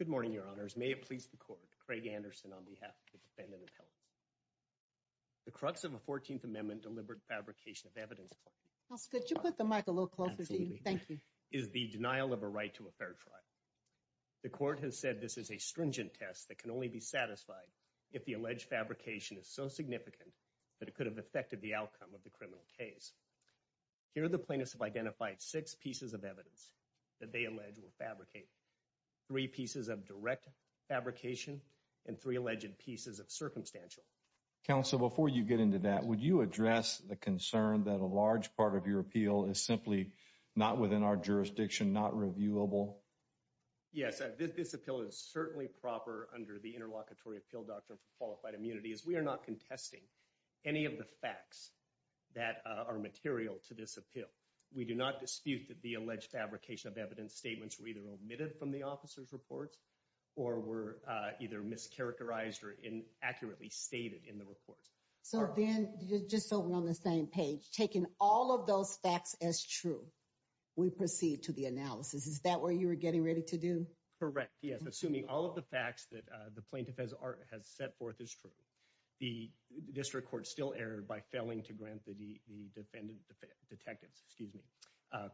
Good morning, your honors. May it please the court. Craig Anderson on behalf of the defendant and appellate. The crux of a 14th amendment deliberate fabrication of evidence. Could you put the mic a little closer to you? Thank you. Is the denial of a right to a fair trial. The court has said this is a stringent test that can only be satisfied if the alleged fabrication is so significant that it could have affected the outcome of the criminal case. Here, the plaintiffs have identified six pieces of evidence that they allege were fabricated. Three pieces of direct fabrication and three alleged pieces of circumstantial counsel. Before you get into that, would you address the concern that a large part of your appeal is simply not within our jurisdiction, not reviewable? Yes, this appeal is certainly proper under the interlocutory appeal doctrine for qualified immunity as we are not contesting any of the facts that are material to this appeal. We do not dispute that the alleged fabrication of evidence statements were either omitted from the officer's reports or were either mischaracterized or inaccurately stated in the report. So then just so we're on the same page, taking all of those facts as true, we proceed to the analysis. Is that what you were getting ready to do? Correct. Yes. Assuming all of the facts that the plaintiff has set forth is true, the district court still erred by failing to grant the defendant detectives, excuse me,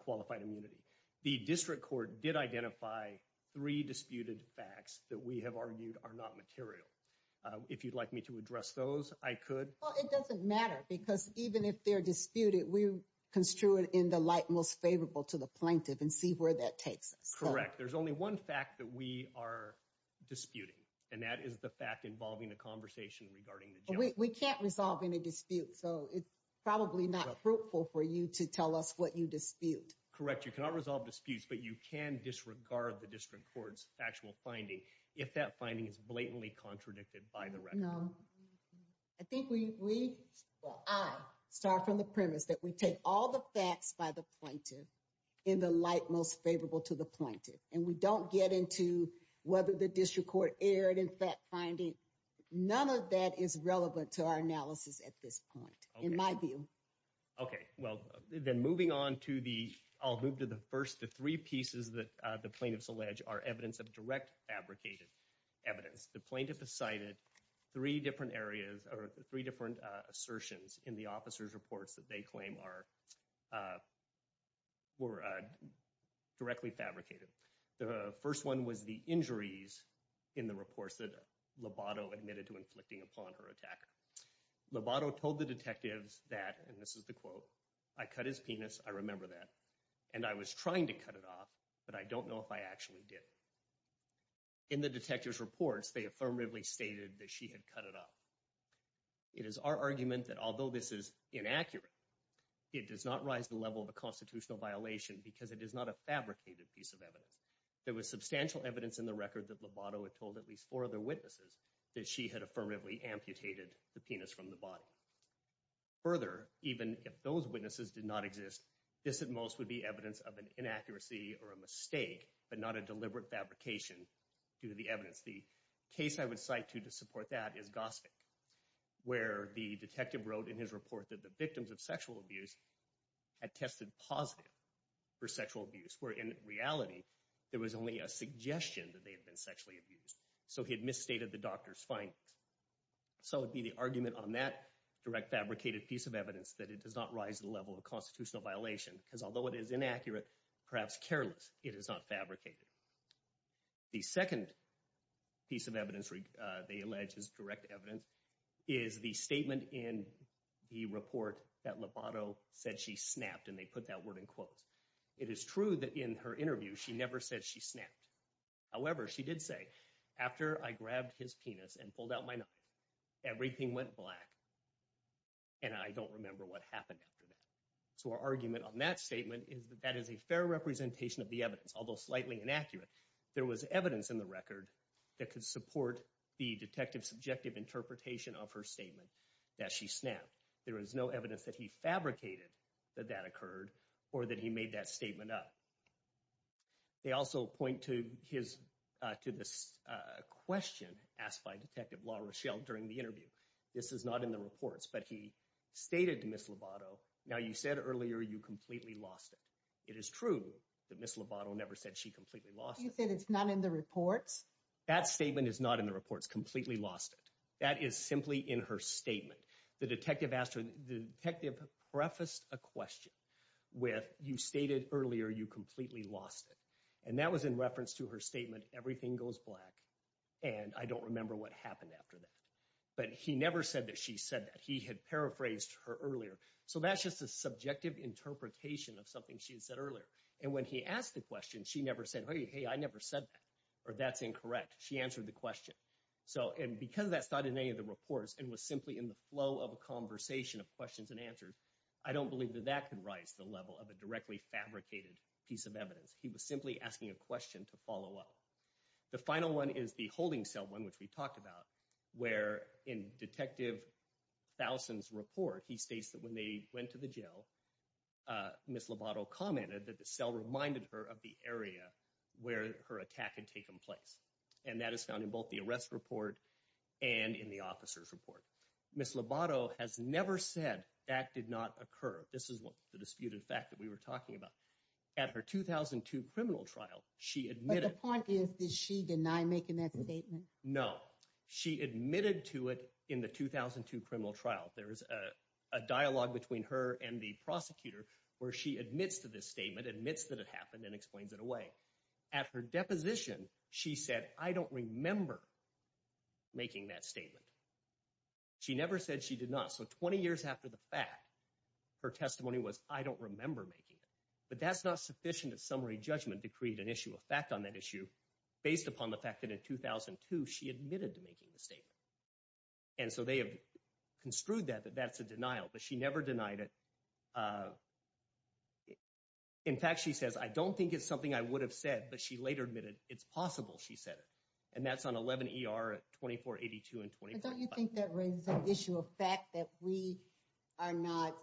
qualified immunity. The district court did identify three disputed facts that we have argued are not material. If you'd like me to address those, I could. Well, it doesn't matter because even if they're disputed, we construe it in the light most favorable to the plaintiff and see where that takes us. Correct. There's only one fact that we are disputing, and that is the fact involving a conversation regarding the judge. We can't resolve any dispute, so it's probably not fruitful for you to tell us what you dispute. Correct. You cannot resolve disputes, but you can disregard the district court's factual finding if that finding is blatantly contradicted by the record. No. I think we, well, I start from the premise that we take all the facts by the plaintiff in the light most favorable to the plaintiff, and we don't get into whether the district court erred in fact finding. None of that is relevant to our analysis at this point, in my view. Okay. Well, then moving on to the, I'll move to the first, the three pieces that the plaintiffs allege are evidence of direct fabricated evidence. The plaintiff has cited three different areas, or three different assertions in the officer's reports that they claim are, were directly fabricated. The first one was the injuries in the reports that Lobato admitted to inflicting upon her attacker. Lobato told the detectives that, and this is the quote, I cut his penis, I remember that, and I was trying to cut it off, but I don't know if I actually did. In the detective's reports, they affirmatively stated that she had cut it off. It is our argument that although this is inaccurate, it does not rise to the level of a constitutional violation because it is not a fabricated piece of evidence. There was substantial evidence in the record that Lobato had told at least four other witnesses that she had affirmatively amputated the penis from the body. Further, even if those witnesses did not exist, this at most would be evidence of an inaccuracy or a mistake, but not a deliberate fabrication due to the evidence. The case I would cite to to support that is Gosvick, where the detective wrote in his report that the victims of sexual abuse had tested positive for sexual abuse, where in reality, there was only a suggestion that they had been sexually abused. So he had misstated the doctor's findings. So it would be the argument on that direct fabricated piece of evidence that it does not rise to the level of a constitutional violation because although it is inaccurate, perhaps careless, it is not fabricated. The second piece of evidence they allege is direct evidence is the statement in the report that Lobato said she snapped, and they put that word in quotes. It is true that in her interview, she never said she snapped. However, she did say, after I grabbed his penis and pulled out my knife, everything went black, and I don't remember what happened after that. So our argument on that statement is that that is a fair representation of the evidence, although slightly inaccurate. There was evidence in the record that could support the detective's subjective interpretation of her statement that she snapped. There is no evidence that he fabricated that that occurred or that he made that statement up. They also point to this question asked by Detective LaRochelle during the interview. This is not in the reports, but he stated to Ms. Lobato, now, you said earlier you completely lost it. It is true that Ms. Lobato never said she completely lost it. You said it's not in the reports? That statement is not in the reports, completely lost it. That is simply in her statement. The detective asked her, the detective prefaced a question with, you stated earlier you completely lost it. And that was in reference to her statement, everything goes black, and I don't remember what happened after that. But he never said that she said that. He had paraphrased her earlier. So that's just a subjective interpretation of something she had said earlier. And when he asked the question, she never said, hey, I never said that, or that's incorrect. She answered the question. So, and because that's not in any of the reports and was simply in the flow of a conversation of questions and answers, I don't believe that that can rise to the level of a directly fabricated piece of evidence. He was simply asking a question to follow up. The final one is the holding cell one, which we talked about, where in Detective Foulson's report, he states that when they went to the jail, Ms. Lobato commented that the cell reminded her of the area where her attack had taken place. And that is found in both the arrest report and in the officer's report. Ms. Lobato has never said that did not occur. This is what the disputed fact that we were talking about. At her 2002 criminal trial, she admitted to it. The point is, did she deny making that statement? No. She admitted to it in the 2002 criminal trial. There is a dialogue between her and the prosecutor where she admits to this statement, admits that it happened, and explains it away. At her deposition, she said, I don't remember making that statement. She never said she did not. So 20 years after the fact, her testimony was, I don't remember making it. But that's not sufficient as summary judgment to create an issue of fact on that issue based upon the fact that in 2002, she admitted to making the statement. And so they have construed that that that's a denial, but she never denied it. In fact, she says, I don't think it's something I would have said, but she later admitted it's possible she said it. And that's on 11 ER at 2482 and 2485. But don't you think that raises an issue of fact that we are not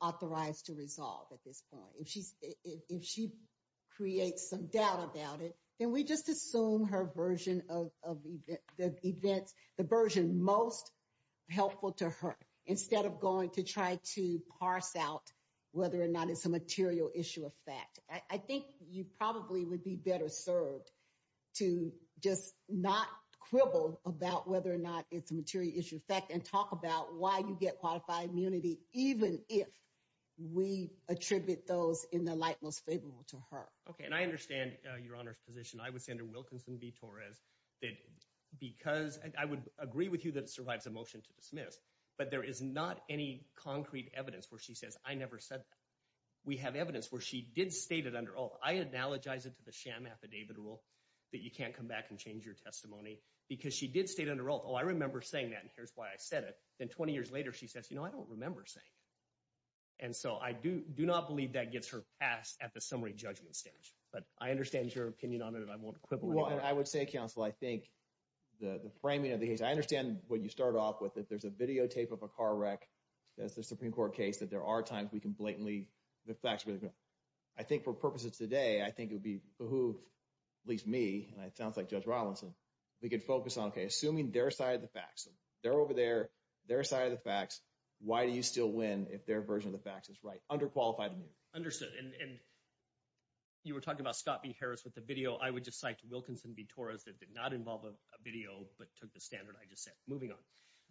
authorized to resolve at this point? If she creates some doubt about it, then we just assume her version of the events, the version most helpful to her instead of going to try to parse out whether or not it's a material issue of fact. I think you probably would be better served to just not quibble about whether or not it's a material issue of fact and talk about why you get qualified immunity, even if we attribute those in the light most favorable to her. Okay. And I understand your honor's position. I would send her Wilkinson v. Torres that because I would agree with you that it survives a motion to dismiss, but there is not any concrete evidence where she says, I never said that we have evidence where she did state it under oath. I analogize it to the sham affidavit rule that you can't come back and change your testimony because she did state under oath. Oh, I remember saying that. And here's why I said it. Then 20 years later, she says, I don't remember saying it. And so I do not believe that gets her passed at the summary judgment stage, but I understand your opinion on it and I won't quibble. I would say counsel, I think the framing of the case, I understand when you start off with it, there's a videotape of a car wreck. That's the Supreme Court case that there are times we can blatantly the facts. I think for purposes today, I think it would be behoove at least me. And it sounds like Judge Robinson, we could focus on, okay, assuming their side of the facts, they're over there, their side of the facts, why do you still win if their version of the facts is right? Underqualified immunity. Understood. And you were talking about Scott B. Harris with the video. I would just cite Wilkinson v. Torres that did not involve a video, but took the standard I just said. Moving on.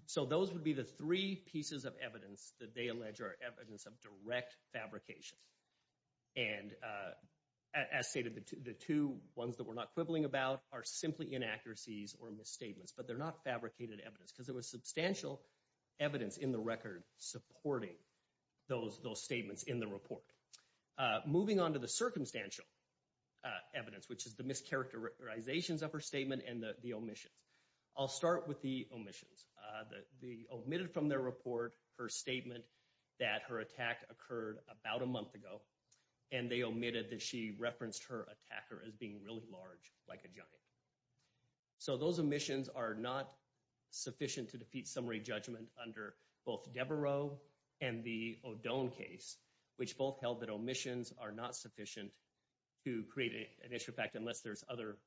So those would be the three pieces of evidence that they allege are evidence of direct fabrication. And as stated, the two ones that we're not quibbling about are fabricated evidence, because there was substantial evidence in the record supporting those statements in the report. Moving on to the circumstantial evidence, which is the mischaracterizations of her statement and the omissions. I'll start with the omissions. The omitted from their report, her statement that her attack occurred about a month ago, and they omitted that she referenced her attacker as being really large, like a giant. So those omissions are not sufficient to defeat summary judgment under both Devereaux and the O'Done case, which both held that omissions are not sufficient to create an issue of fact unless there's other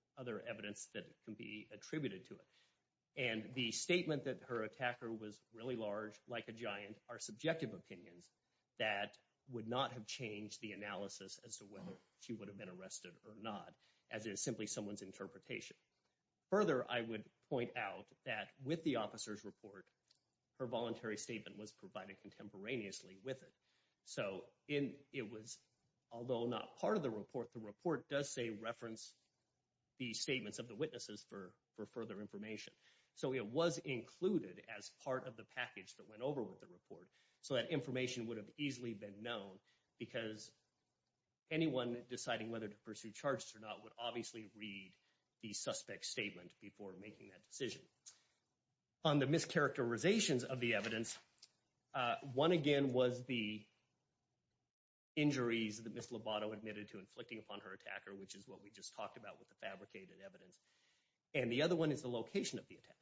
evidence that can be attributed to it. And the statement that her attacker was really large, like a giant, are subjective opinions that would not have changed the analysis as to Further, I would point out that with the officer's report, her voluntary statement was provided contemporaneously with it. So it was, although not part of the report, the report does say reference the statements of the witnesses for further information. So it was included as part of the package that went over with the report, so that information would have easily been known because anyone deciding whether to pursue charges or not would obviously read the suspect's statement before making that decision. On the mischaracterizations of the evidence, one again was the injuries that Ms. Lobato admitted to inflicting upon her attacker, which is what we just talked about with the fabricated evidence. And the other one is the location of the attack.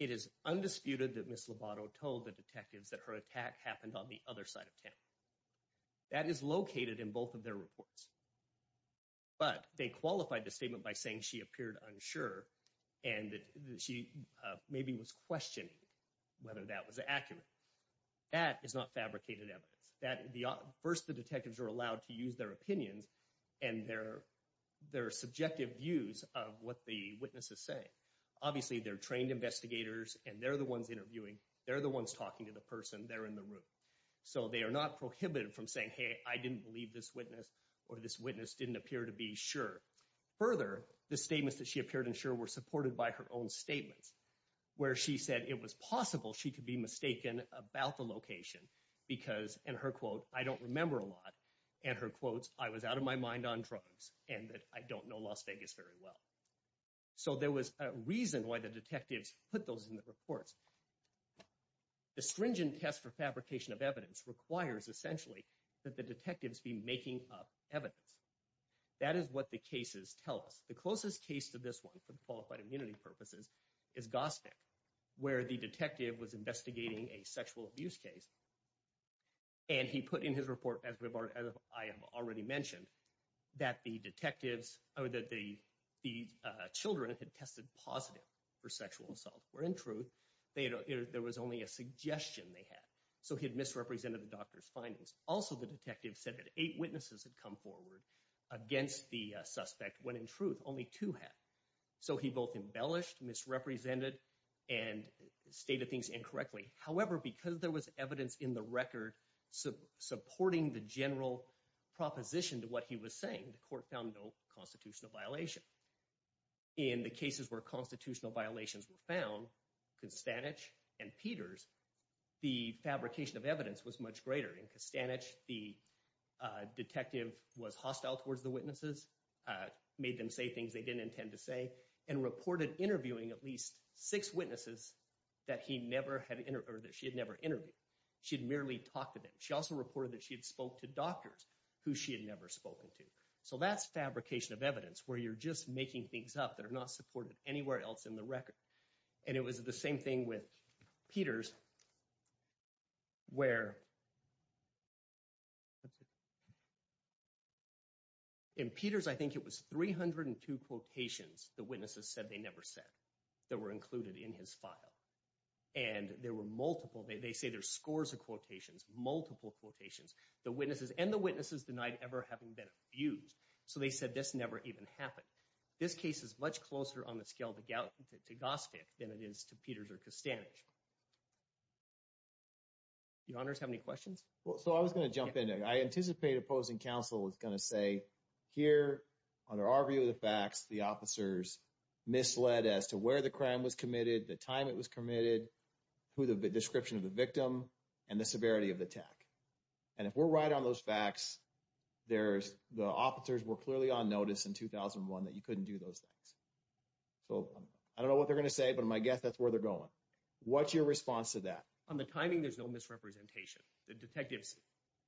It is undisputed that Ms. Lobato told the detectives that her attack happened on the But they qualified the statement by saying she appeared unsure and that she maybe was questioning whether that was accurate. That is not fabricated evidence. First, the detectives are allowed to use their opinions and their subjective views of what the witness is saying. Obviously, they're trained investigators, and they're the ones interviewing. They're the ones talking to the person. They're in the room. So they are not prohibited from saying, hey, I didn't believe this witness or this witness didn't appear to be sure. Further, the statements that she appeared unsure were supported by her own statements, where she said it was possible she could be mistaken about the location because, and her quote, I don't remember a lot. And her quotes, I was out of my mind on drugs and that I don't know Las Vegas very well. So there was a reason why the detectives put those in the reports. The stringent test for fabrication of evidence requires, essentially, that the detectives be making up evidence. That is what the cases tell us. The closest case to this one, for the qualified immunity purposes, is Gosnik, where the detective was investigating a sexual abuse case. And he put in his report, as I have already mentioned, that the detectives or that the children had tested positive for sexual assault, where in truth, there was only a suggestion they had. So he had misrepresented the doctor's findings. Also, the detective said that eight witnesses had come forward against the suspect, when in truth, only two had. So he both embellished, misrepresented, and stated things incorrectly. However, because there was evidence in the record supporting the general proposition to what he was saying, the court found no constitutional violation. In the cases where constitutional violations were found, Konstanich and Peters, the fabrication of evidence was much greater. In Konstanich, the detective was hostile towards the witnesses, made them say things they didn't intend to say, and reported interviewing at least six witnesses that he never had, or that she had never interviewed. She had merely talked to them. She also reported that she had spoke to doctors who she had never spoken to. So that's fabrication of evidence, where you're just making things up that are not supported anywhere else in the record. And it was the same thing with Peters, where in Peters, I think it was 302 quotations the witnesses said they never said that were included in his file. And there were multiple, they say there's scores of quotations, multiple quotations, the witnesses and the witnesses denied ever having been abused. So they said this never even happened. This case is much closer on the scale to Gosvick than it is to Peters or Konstanich. Your honors, have any questions? Well, so I was going to jump in. I anticipate opposing counsel is going to say here, under our view of the facts, the officers misled as to where the crime was committed, the time it was committed, who the description of the victim, and the severity of the attack. And if we're right on those facts, the officers were clearly on notice in 2001 that you couldn't do those things. So I don't know what they're going to say, but my guess that's where they're going. What's your response to that? On the timing, there's no misrepresentation. The detectives...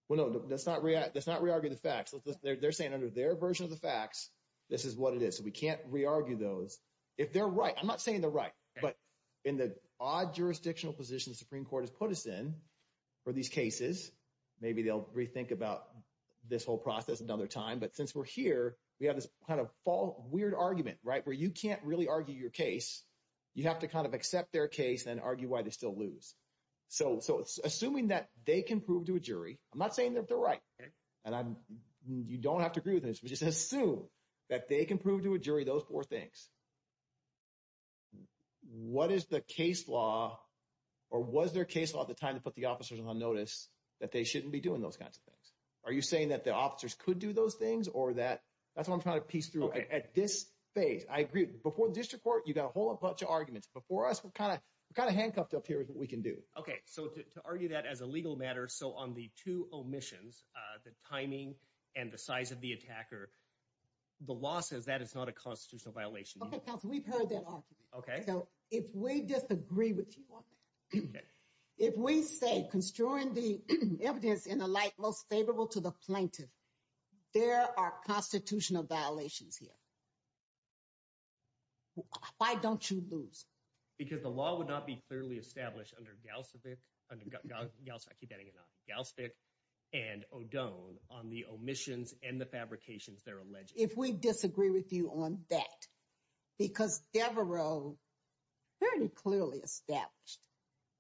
Well, no, let's not re-argue the facts. They're saying under their version of the facts, this is what it is. So we can't re-argue those. If they're right, I'm not saying they're right, but in the odd jurisdictional position Supreme Court has put us in for these cases, maybe they'll rethink about this whole process another time. But since we're here, we have this kind of fall weird argument, right, where you can't really argue your case. You have to kind of accept their case and argue why they still lose. So assuming that they can prove to a jury, I'm not saying that they're right. And you don't have to agree with this, but just assume that they can prove to a jury those four things. What is the case law or was their case law at the time to put the officers on notice that they shouldn't be doing those kinds of things? Are you saying that the officers could do those things or that... That's what I'm trying to piece through at this phase. I agree. Before the district court, you got a whole bunch of arguments. Before us, we're kind of handcuffed up here with what we can do. Okay. So to argue that as a legal matter, so on the two omissions, the timing and the size of the attacker, the law says that it's not a constitutional violation. Okay, counsel, we've heard that argument. Okay. So if we disagree with you on that, if we say construing the evidence in a light most favorable to the plaintiff, there are constitutional violations here. Why don't you lose? Because the law would not be clearly established under Galsvik and O'Donnell on the omissions and the fabrications they're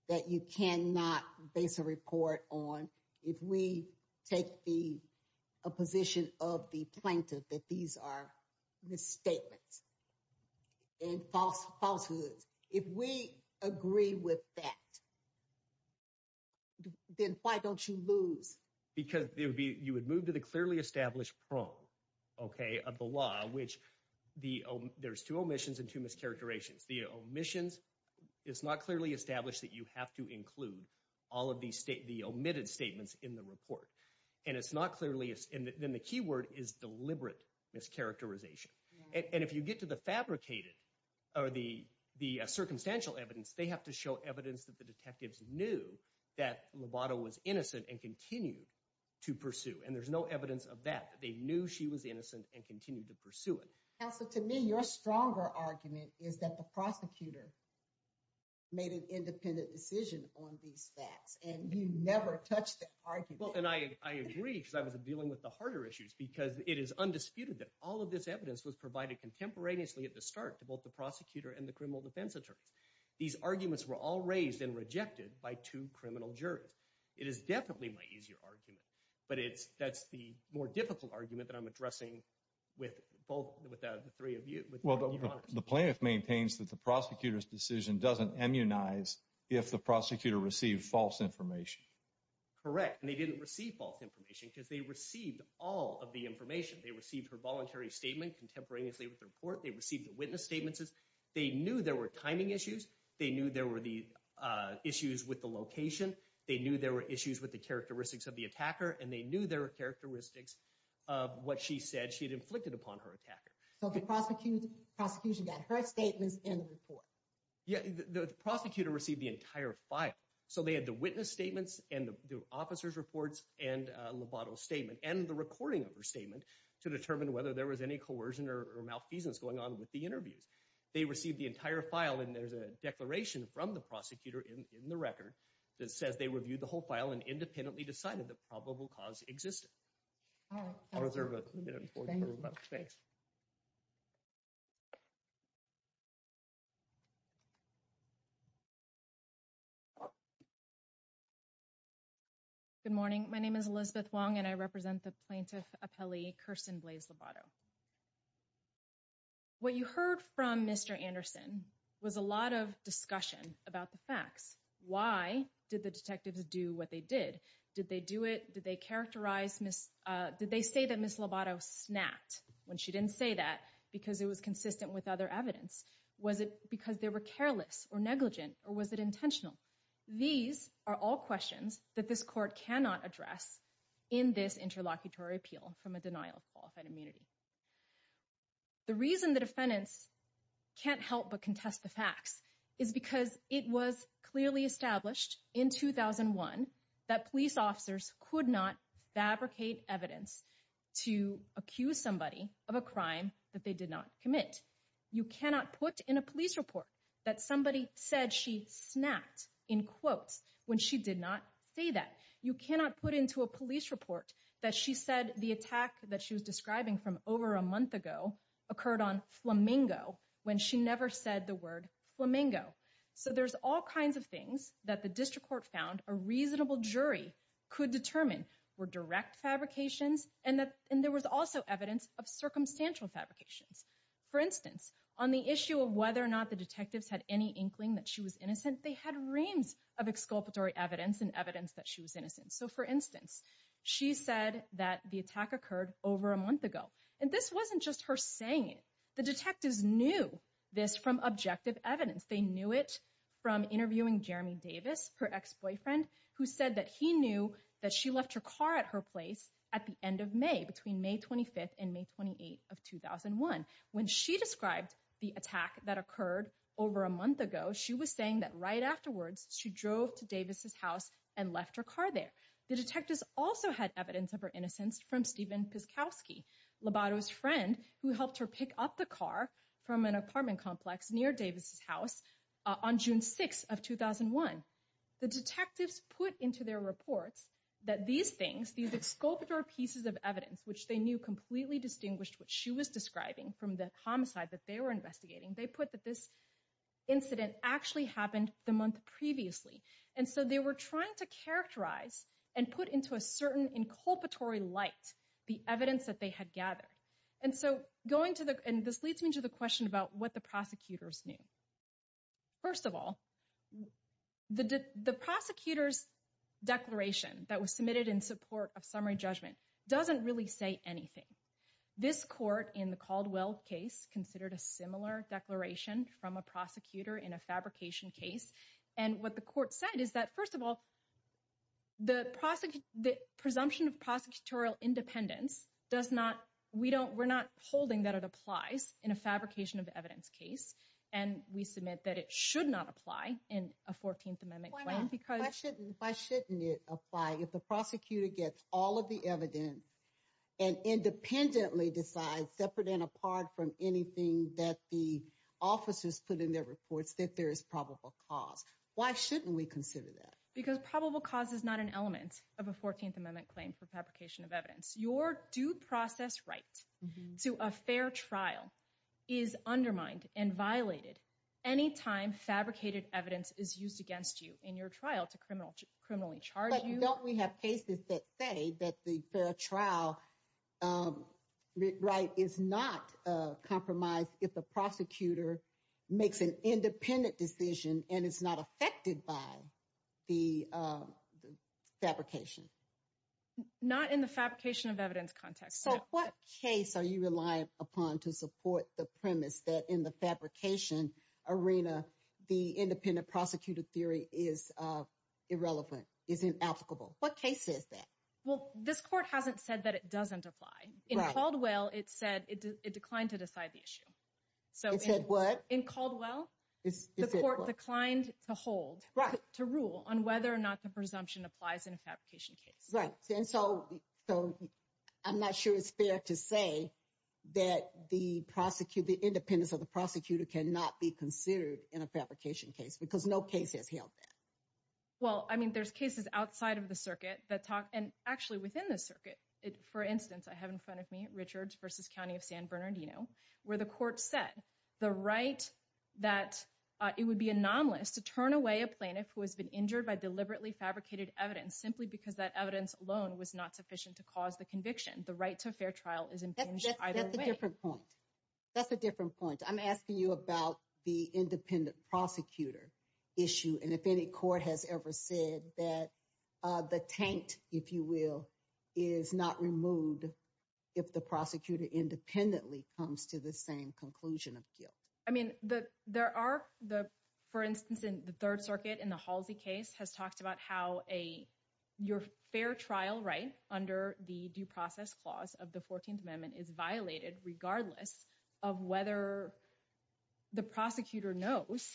that you cannot base a report on. If we take the position of the plaintiff that these are misstatements and false falsehoods, if we agree with that, then why don't you lose? Because you would move to the clearly established prong, okay, of the law, which there's two omissions and two mischaracterizations. The omissions, it's not clearly established that you have to include all of the omitted statements in the report. And it's not clearly, and then the key word is deliberate mischaracterization. And if you get to the fabricated or the circumstantial evidence, they have to show evidence that the detectives knew that Lovato was innocent and continued to pursue. And there's no evidence of that, that they knew she was innocent and continued to pursue it. Counsel, to me, your stronger argument is that the prosecutor made an independent decision on these facts and you never touched the argument. Well, and I agree because I was dealing with the harder issues because it is undisputed that all of this evidence was provided contemporaneously at the start to both the prosecutor and the criminal defense attorneys. These arguments were all raised and rejected by two criminal jurors. It is definitely my easier argument, but that's the more difficult argument that I'm addressing with both, with the three of you. Well, the plaintiff maintains that the prosecutor's decision doesn't immunize if the prosecutor received false information. Correct. And they didn't receive false information because they received all of the information. They received her voluntary statement contemporaneously with the report. They received the witness statements. They knew there were timing issues. They knew there were the issues with the location. They knew there were issues with the characteristics of the attacker. And they knew there were characteristics of what she said she had inflicted upon her attacker. So the prosecution got her statements and the report. Yeah, the prosecutor received the entire file. So they had the witness statements and the officer's reports and Lovato's statement and the recording of her statement to determine whether there was any coercion or malfeasance going on with the interviews. They received the entire file and there's a declaration from the prosecutor in probable cause existing. All right. I'll reserve a minute. Thanks. Good morning. My name is Elizabeth Wong and I represent the plaintiff appellee, Kirsten Blaise Lovato. What you heard from Mr. Anderson was a lot of discussion about the facts. Why did the detectives do what they did? Did they do it? Did they characterize Ms. Did they say that Ms. Lovato snapped when she didn't say that because it was consistent with other evidence? Was it because they were careless or negligent or was it intentional? These are all questions that this court cannot address in this interlocutory appeal from a denial of qualified in 2001 that police officers could not fabricate evidence to accuse somebody of a crime that they did not commit. You cannot put in a police report that somebody said she snapped in quotes when she did not say that. You cannot put into a police report that she said the attack that she was describing from over a month ago occurred on Flamingo when she never said the word Flamingo. So there's all kinds of things that the district court found a reasonable jury could determine were direct fabrications and that and there was also evidence of circumstantial fabrications. For instance, on the issue of whether or not the detectives had any inkling that she was innocent, they had reams of exculpatory evidence and evidence that she was innocent. So for instance, she said that the attack occurred over a month ago and this wasn't just her saying it. The from interviewing Jeremy Davis, her ex-boyfriend, who said that he knew that she left her car at her place at the end of May between May 25th and May 28th of 2001. When she described the attack that occurred over a month ago, she was saying that right afterwards she drove to Davis's house and left her car there. The detectives also had evidence of her innocence from Steven Piskowski, Lobato's friend, who helped her pick up the car from an apartment complex near Davis's house on June 6th of 2001. The detectives put into their reports that these things, these exculpatory pieces of evidence, which they knew completely distinguished what she was describing from the homicide that they were investigating, they put that this incident actually happened the month previously. And so they were trying to characterize and put into a certain inculpatory light the evidence that they had gathered. And so going to the, and this leads me to the question about what prosecutors knew. First of all, the prosecutor's declaration that was submitted in support of summary judgment doesn't really say anything. This court in the Caldwell case considered a similar declaration from a prosecutor in a fabrication case. And what the court said is that, first of all, the presumption of prosecutorial independence does not, we don't, we're not holding that it applies in a fabrication of evidence case. And we submit that it should not apply in a 14th Amendment claim because- Why not? Why shouldn't it apply if the prosecutor gets all of the evidence and independently decides, separate and apart from anything that the officers put in their reports, that there is probable cause? Why shouldn't we consider that? Because probable cause is not an element of a 14th Amendment claim for fabrication of evidence. Your due process right to a fair trial is undermined and violated anytime fabricated evidence is used against you in your trial to criminally charge you. But don't we have cases that say that the fair trial right is not compromised if the prosecutor makes an independent decision and is not affected by the fabrication? Not in the fabrication of evidence context. So what case are you reliant upon to support the premise that in the fabrication arena, the independent prosecutor theory is irrelevant, is inapplicable? What case says that? Well, this court hasn't said that it doesn't apply. In Caldwell, it said it declined to decide the issue. It said what? In Caldwell, the court declined to hold, to rule on whether or not the presumption applies in a fabrication case. Right. And so I'm not sure it's fair to say that the independence of the prosecutor cannot be considered in a fabrication case because no case has held that. Well, I mean, there's cases outside of the circuit that talk and actually within the circuit. For instance, I have in front of me, Richards versus County of San Bernardino, where the court said the right that it would be anomalous to turn away a plaintiff who has been injured by deliberately fabricated evidence simply because that evidence alone was not sufficient to cause the conviction. The right to a fair trial is impinged either way. That's a different point. That's a different point. I'm asking you about the independent prosecutor issue. And if any court has ever said that the taint, if you will, is not removed if the prosecutor independently comes to the same conclusion of guilt. I mean, the there are the, for instance, in the Third Circuit in the Halsey case has talked about how a your fair trial right under the due process clause of the 14th Amendment is violated regardless of whether the prosecutor knows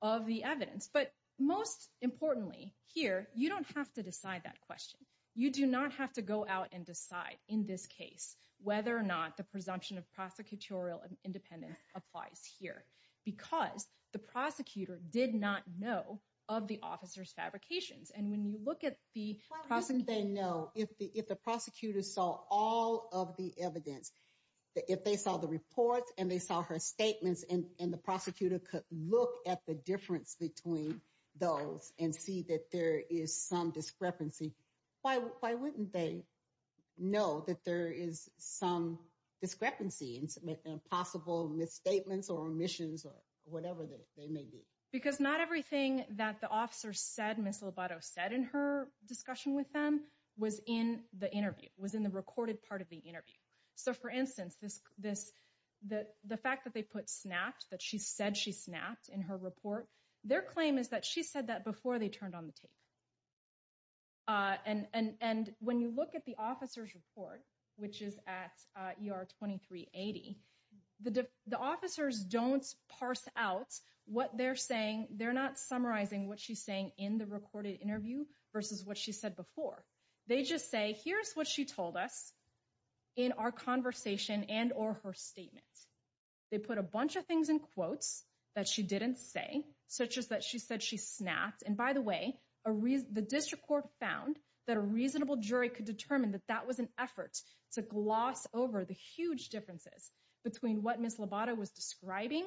of the evidence. But most importantly here, you don't have to decide that question. You do not have to go out and decide in this case whether or not the evidence applies here because the prosecutor did not know of the officer's fabrications. And when you look at the prosecutor, they know if the if the prosecutor saw all of the evidence, if they saw the reports and they saw her statements and the prosecutor could look at the difference between those and see that there is some discrepancy, why wouldn't they know that there is some discrepancy and possible misstatements or omissions or whatever they may be? Because not everything that the officer said, Ms. Lobato said in her discussion with them was in the interview, was in the recorded part of the interview. So for instance, the fact that they put snapped, that she said she snapped in her report, their claim is that she said that before they turned on the tape. And when you look at the officer's report, which is at ER 2380, the officers don't parse out what they're saying. They're not summarizing what she's saying in the recorded interview versus what she said before. They just say, here's what she told us in our conversation and or her statements. They put a bunch of things in quotes that she didn't say, such as that she said she snapped. And by the way, the district court found that a reasonable jury could determine that that was an effort to gloss over the huge differences between what Ms. Lobato was describing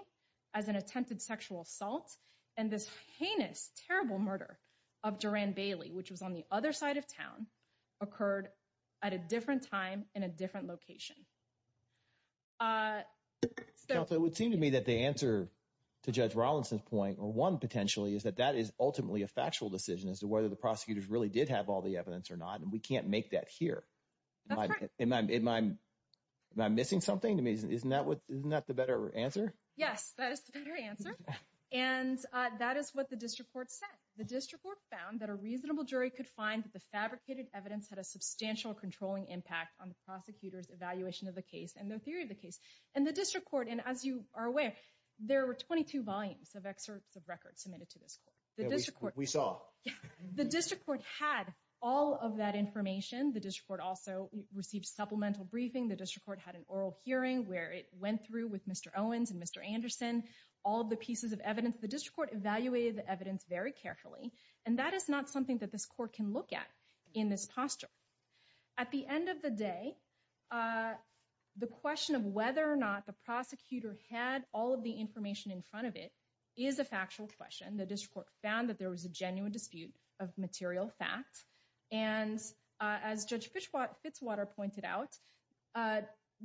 as an attempted sexual assault and this heinous, terrible murder of Duran Bailey, which was on the other side of town, occurred at a different time in a different location. So it would seem to me that the answer to Judge Rollins or one potentially is that that is ultimately a factual decision as to whether the prosecutors really did have all the evidence or not. And we can't make that here. Am I missing something to me? Isn't that the better answer? Yes, that is the better answer. And that is what the district court said. The district court found that a reasonable jury could find that the fabricated evidence had a substantial controlling impact on the prosecutor's evaluation of the case and their theory of the case. And the district court, and as you are aware, there were 22 volumes of excerpts of records submitted to this court. We saw the district court had all of that information. The district court also received supplemental briefing. The district court had an oral hearing where it went through with Mr. Owens and Mr. Anderson, all the pieces of evidence. The district court evaluated the evidence very carefully. And that is not something that this court can look at in this posture. At the end of the day, the question of whether or not the evidence is a factual question, the district court found that there was a genuine dispute of material facts. And as Judge Fitzwater pointed out,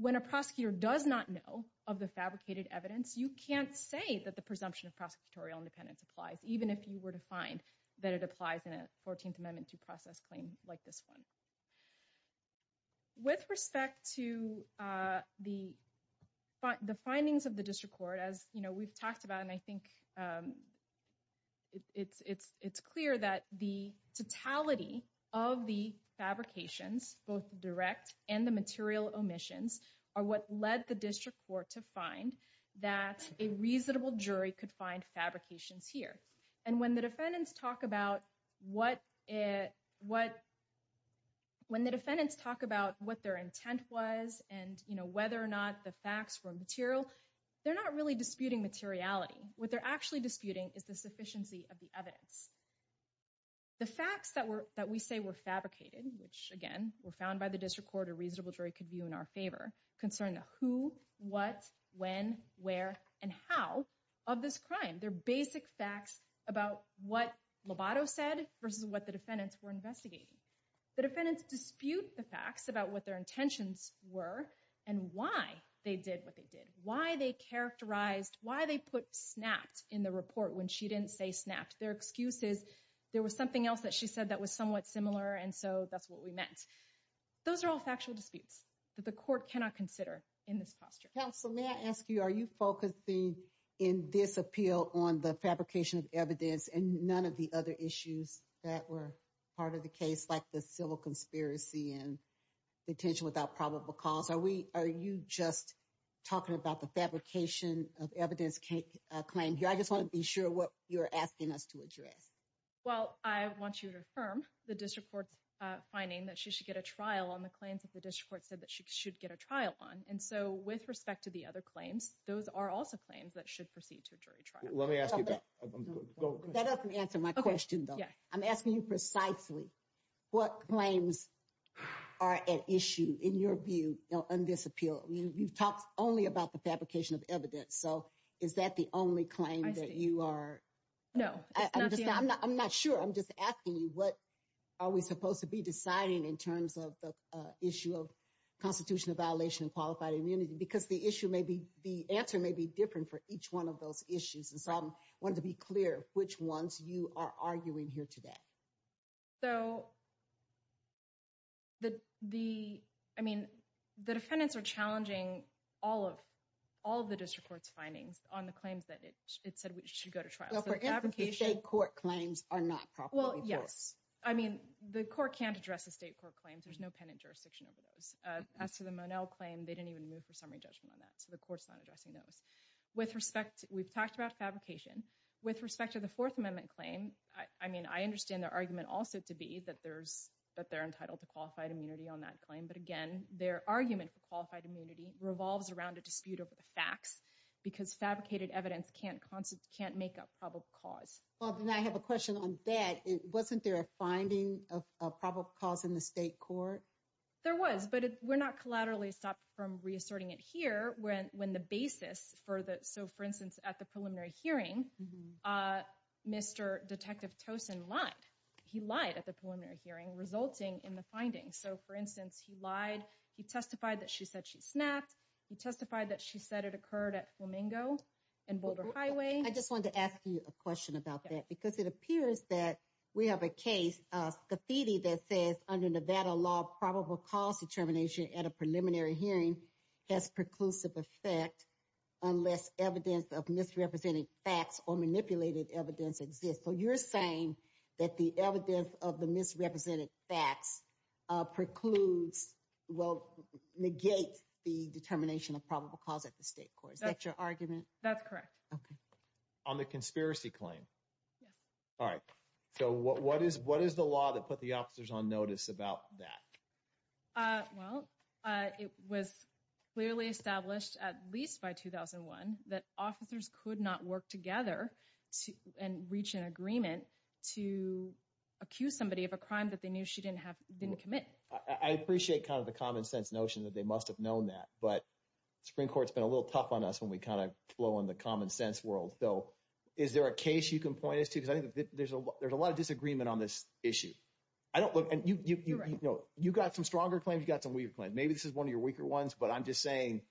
when a prosecutor does not know of the fabricated evidence, you can't say that the presumption of prosecutorial independence applies, even if you were to find that it applies in a 14th Amendment to process claim like this one. With respect to the findings of the district court, as we've talked about, and I think it's clear that the totality of the fabrications, both direct and the material omissions, are what led the district court to find that a reasonable jury could find fabrications here. And when the defendants talk about what their intent was and whether or not the facts were material, they're not really disputing materiality. What they're actually disputing is the sufficiency of the evidence. The facts that we say were fabricated, which again were found by the district court, a reasonable jury could view in our favor, concern the who, what, when, where, and how of this crime. They're basic facts about what Lobato said versus what the defendants were investigating. The defendants dispute the facts about what their intentions were and why they did what they did, why they characterized, why they put snapped in the report when she didn't say snapped. Their excuse is there was something else that she said that was somewhat similar, and so that's what we meant. Those are all factual disputes that the court cannot consider in this posture. Counsel, may I ask you, are you focusing in this appeal on the fabrication of evidence and none of the other issues that were part of the case, like the civil conspiracy and detention without probable cause? Are you just talking about the fabrication of evidence claim? I just want to be sure what you're asking us to address. Well, I want you to affirm the district court's finding that she should get a trial on the claims that the district court said that she should get a trial on, and so with respect to the other claims, those are also claims that should proceed to a jury trial. Let me ask you that. That doesn't answer my question, though. I'm asking you precisely what claims are at issue in your view on this appeal. You've talked only about the fabrication of evidence, so is that the only claim that you are... No. I'm not sure. I'm just asking you to affirm the constitutional violation of qualified immunity because the answer may be different for each one of those issues, and so I wanted to be clear which ones you are arguing here today. The defendants are challenging all of the district court's findings on the claims that it said we should go to trial. Well, for instance, the state court claims are not properly forced. Well, yes. The court can't address the state court claims. There's no penitent jurisdiction over those. As to the Monell claim, they didn't even move for summary judgment on that, so the court's not addressing those. We've talked about fabrication. With respect to the Fourth Amendment claim, I understand their argument also to be that they're entitled to qualified immunity on that claim, but again, their argument for qualified immunity revolves around a dispute over the facts because fabricated evidence can't make up probable cause. Well, then I have a question on that. Wasn't there a finding of probable cause in the state court? There was, but we're not collaterally stopped from reasserting it here when the basis for the... So, for instance, at the preliminary hearing, Mr. Detective Tosin lied. He lied at the preliminary hearing, resulting in the findings. So, for instance, he lied. He testified that she said she snapped. He testified that she said it occurred at Flamingo and Boulder Highway. I just wanted to ask you a question about that because it appears that we have a case, Scafidi, that says under Nevada law, probable cause determination at a preliminary hearing has preclusive effect unless evidence of misrepresented facts or manipulated evidence exists. So, you're saying that the evidence of the misrepresented facts precludes, well, negate the determination of probable cause at the state court. Is that your argument? That's correct. Okay. On the conspiracy claim? Yes. All right. So, what is the law that put the officers on notice about that? Well, it was clearly established at least by 2001 that officers could not work together and reach an agreement to accuse somebody of a crime that they knew she didn't commit. I appreciate kind of the common sense notion that they must have known that, but the Supreme Court's been a little tough on us when we kind of flow in the common sense world. So, is there a case you can point us to? Because I think there's a lot of disagreement on this issue. You got some stronger claims, you got some weaker claims. Maybe this is one of your weaker ones, but I'm just saying,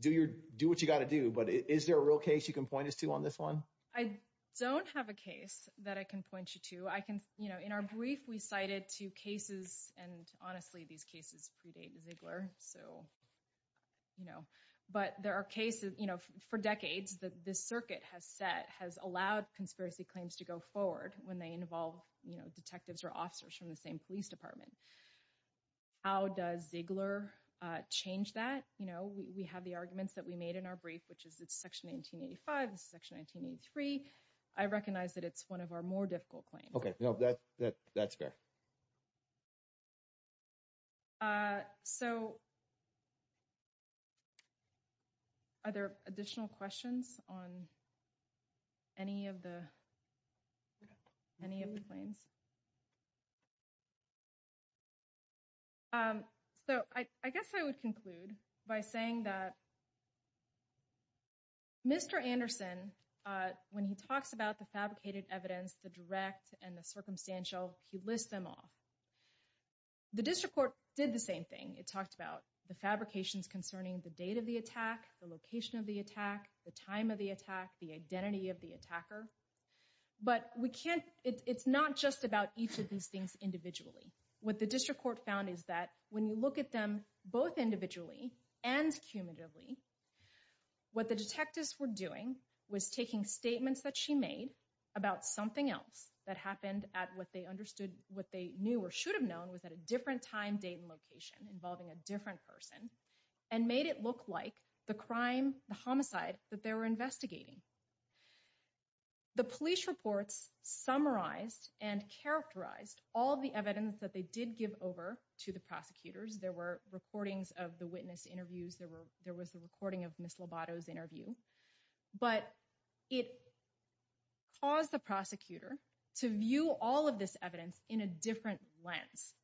do what you got to do. But is there a real case you can point us to on this one? I don't have a case that I can point you to. In our brief, we cited two cases, and honestly, these cases predate Ziegler. But there are cases for decades that this circuit has set, has allowed conspiracy claims to go forward when they involve detectives or officers from the same police department. How does Ziegler change that? We have the arguments that we made in our brief, which is it's section 1885, this is section 1983. I recognize that it's one of our difficult claims. Okay. No, that's fair. So, are there additional questions on any of the claims? So, I guess I would conclude by saying that Mr. Anderson, when he talks about the direct and the circumstantial, he lists them off. The district court did the same thing. It talked about the fabrications concerning the date of the attack, the location of the attack, the time of the attack, the identity of the attacker. But we can't, it's not just about each of these things individually. What the district court found is that when you look at them both individually and cumulatively, what the detectives were doing was taking statements that made about something else that happened at what they understood, what they knew or should have known was at a different time, date, and location involving a different person, and made it look like the crime, the homicide that they were investigating. The police reports summarized and characterized all the evidence that they did give over to the prosecutors. There were recordings of the witness interviews. There was a recording of Ms. Lobato's interview. But it caused the prosecutor to view all of this evidence in a different lens.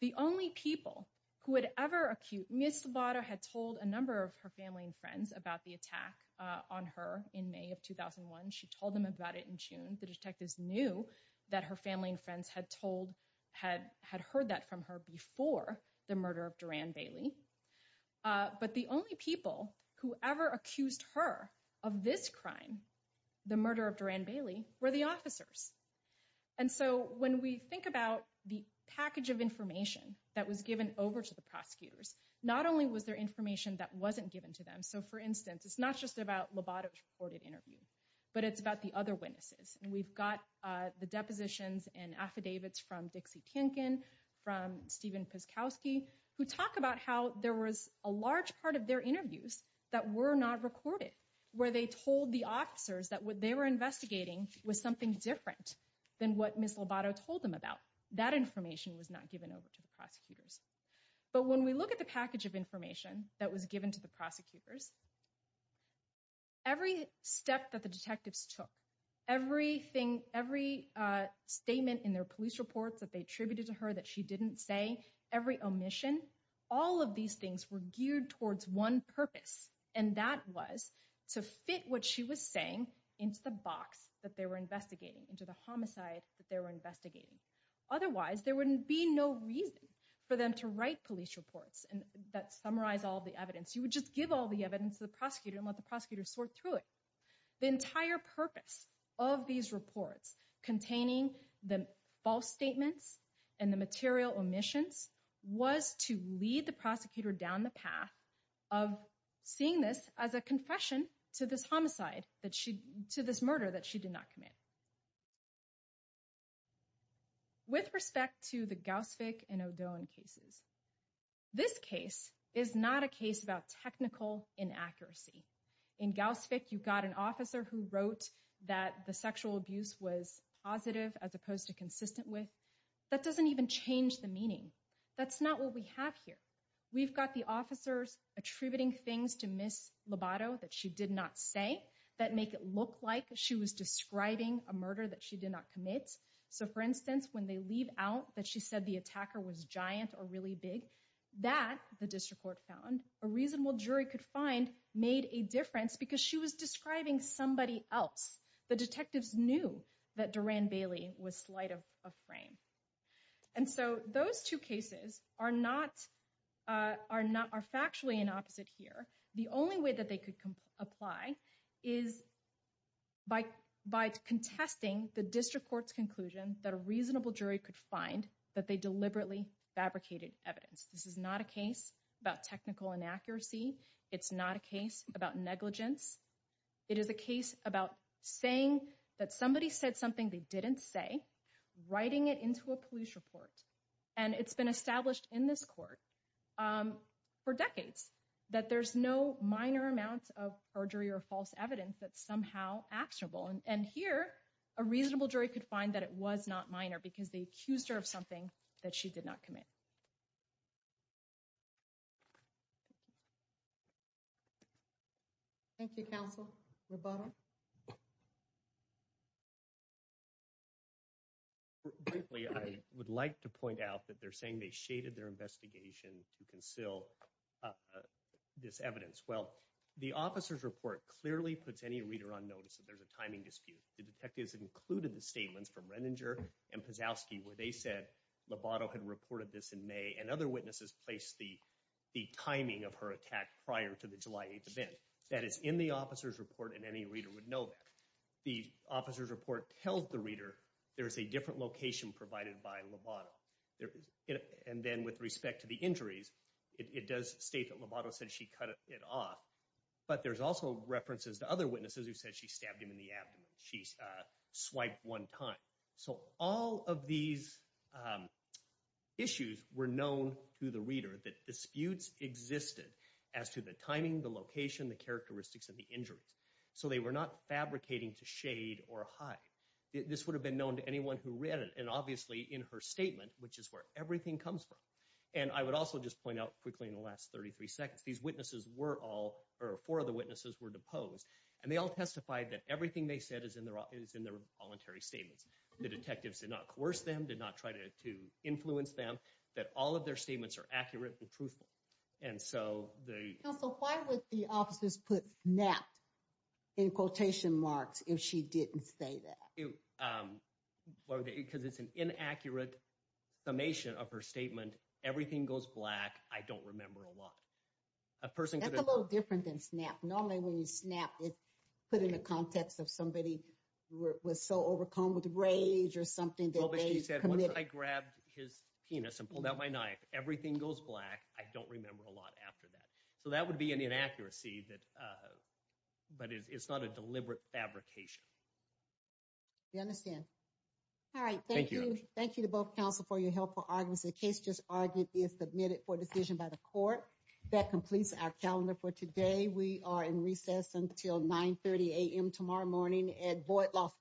The only people who would ever accuse, Ms. Lobato had told a number of her family and friends about the attack on her in May of 2001. She told them about it in June. The detectives knew that her family and friends had heard that from her before the murder of Duran Bailey. But the only people who ever accused her of this crime, the murder of Duran Bailey, were the officers. When we think about the package of information that was given over to the prosecutors, not only was there information that wasn't given to them. For instance, it's not just about Lobato's recorded interview, but it's about the other witnesses. We've got the depositions and affidavits from Dixie Tienken, from Steven Piskowski, who talk about how there was a large part of their interviews that were not recorded, where they told the officers that what they were investigating was something different than what Ms. Lobato told them about. That information was not given over to the prosecutors. But when we look at the package of information that was given to the prosecutors, every step that the detectives took, everything, every statement in their police reports that they attributed to her that she didn't say, every omission, all of these things were geared towards one purpose, and that was to fit what she was saying into the box that they were investigating, into the homicide that they were investigating. Otherwise, there wouldn't be no reason for them to write police reports that summarize all the evidence. You would just give all the evidence to the prosecutor and let the prosecutor sort through it. The entire purpose of these reports containing the false statements and the material omissions was to lead the of seeing this as a confession to this homicide, to this murder that she did not commit. With respect to the Gauss-Fick and O'Donohue cases, this case is not a case about technical inaccuracy. In Gauss-Fick, you've got an officer who wrote that the sexual abuse was positive as opposed to consistent with. That doesn't even change the meaning. That's not what we have here. We've got the officers attributing things to Ms. Lobato that she did not say that make it look like she was describing a murder that she did not commit. So, for instance, when they leave out that she said the attacker was giant or really big, that, the district court found, a reasonable jury could find made a difference because she was describing somebody else. The detectives knew that Duran Bailey was slight of frame. And so those two cases are not, are not, are factually in opposite here. The only way that they could apply is by, by contesting the district court's conclusion that a reasonable jury could find that they deliberately fabricated evidence. This is not a case about technical inaccuracy. It's not a case about negligence. It is a case about saying that somebody said something they didn't say, writing it into a police report. And it's been established in this court for decades that there's no minor amount of perjury or false evidence that's somehow actionable. And here, a reasonable jury could find that it was not minor because they accused her of something that she did not commit. Thank you, Counsel Lobato. Briefly, I would like to point out that they're saying they shaded their investigation to conceal this evidence. Well, the officer's report clearly puts any reader on notice that there's a timing dispute. The detectives included the statements from Renninger and Pazowski where they said Lobato had reported this in May and other witnesses placed the, the timing of her attack prior to the July 8th event. That is in the officer's report and any reader would know that. The officer's report tells the reader there's a different location provided by Lobato. And then with respect to the injuries, it does state that Lobato said she cut it off. But there's also references to other witnesses who said she stabbed him in the abdomen. She swiped one time. So all of these issues were known to the reader that disputes existed as to the timing, the location, the characteristics of the injuries. So they were not fabricating to shade or hide. This would have been known to anyone who read it. And obviously in her statement, which is where everything comes from. And I would also just point out quickly in the last 33 seconds, these witnesses were all, or four of the witnesses were deposed. And they all testified that everything they said is in their, is in their voluntary statements. The detectives did not coerce them, did not try to, to influence them, that all of their statements are accurate and truthful. And so the... The officer's put snapped in quotation marks if she didn't say that. Because it's an inaccurate summation of her statement. Everything goes black. I don't remember a lot. A person could have... That's a little different than snap. Normally when you snap, it's put in the context of somebody was so overcome with rage or something that they committed. Well, but she said once I grabbed his penis and pulled out my knife, everything goes black. I don't remember a lot after that. So that would be an inaccuracy that, but it's not a deliberate fabrication. We understand. All right. Thank you. Thank you to both counsel for your helpful arguments. The case just argued is submitted for decision by the court. That completes our calendar for today. We are in recess until 9.30 AM tomorrow morning at Boyd Law School.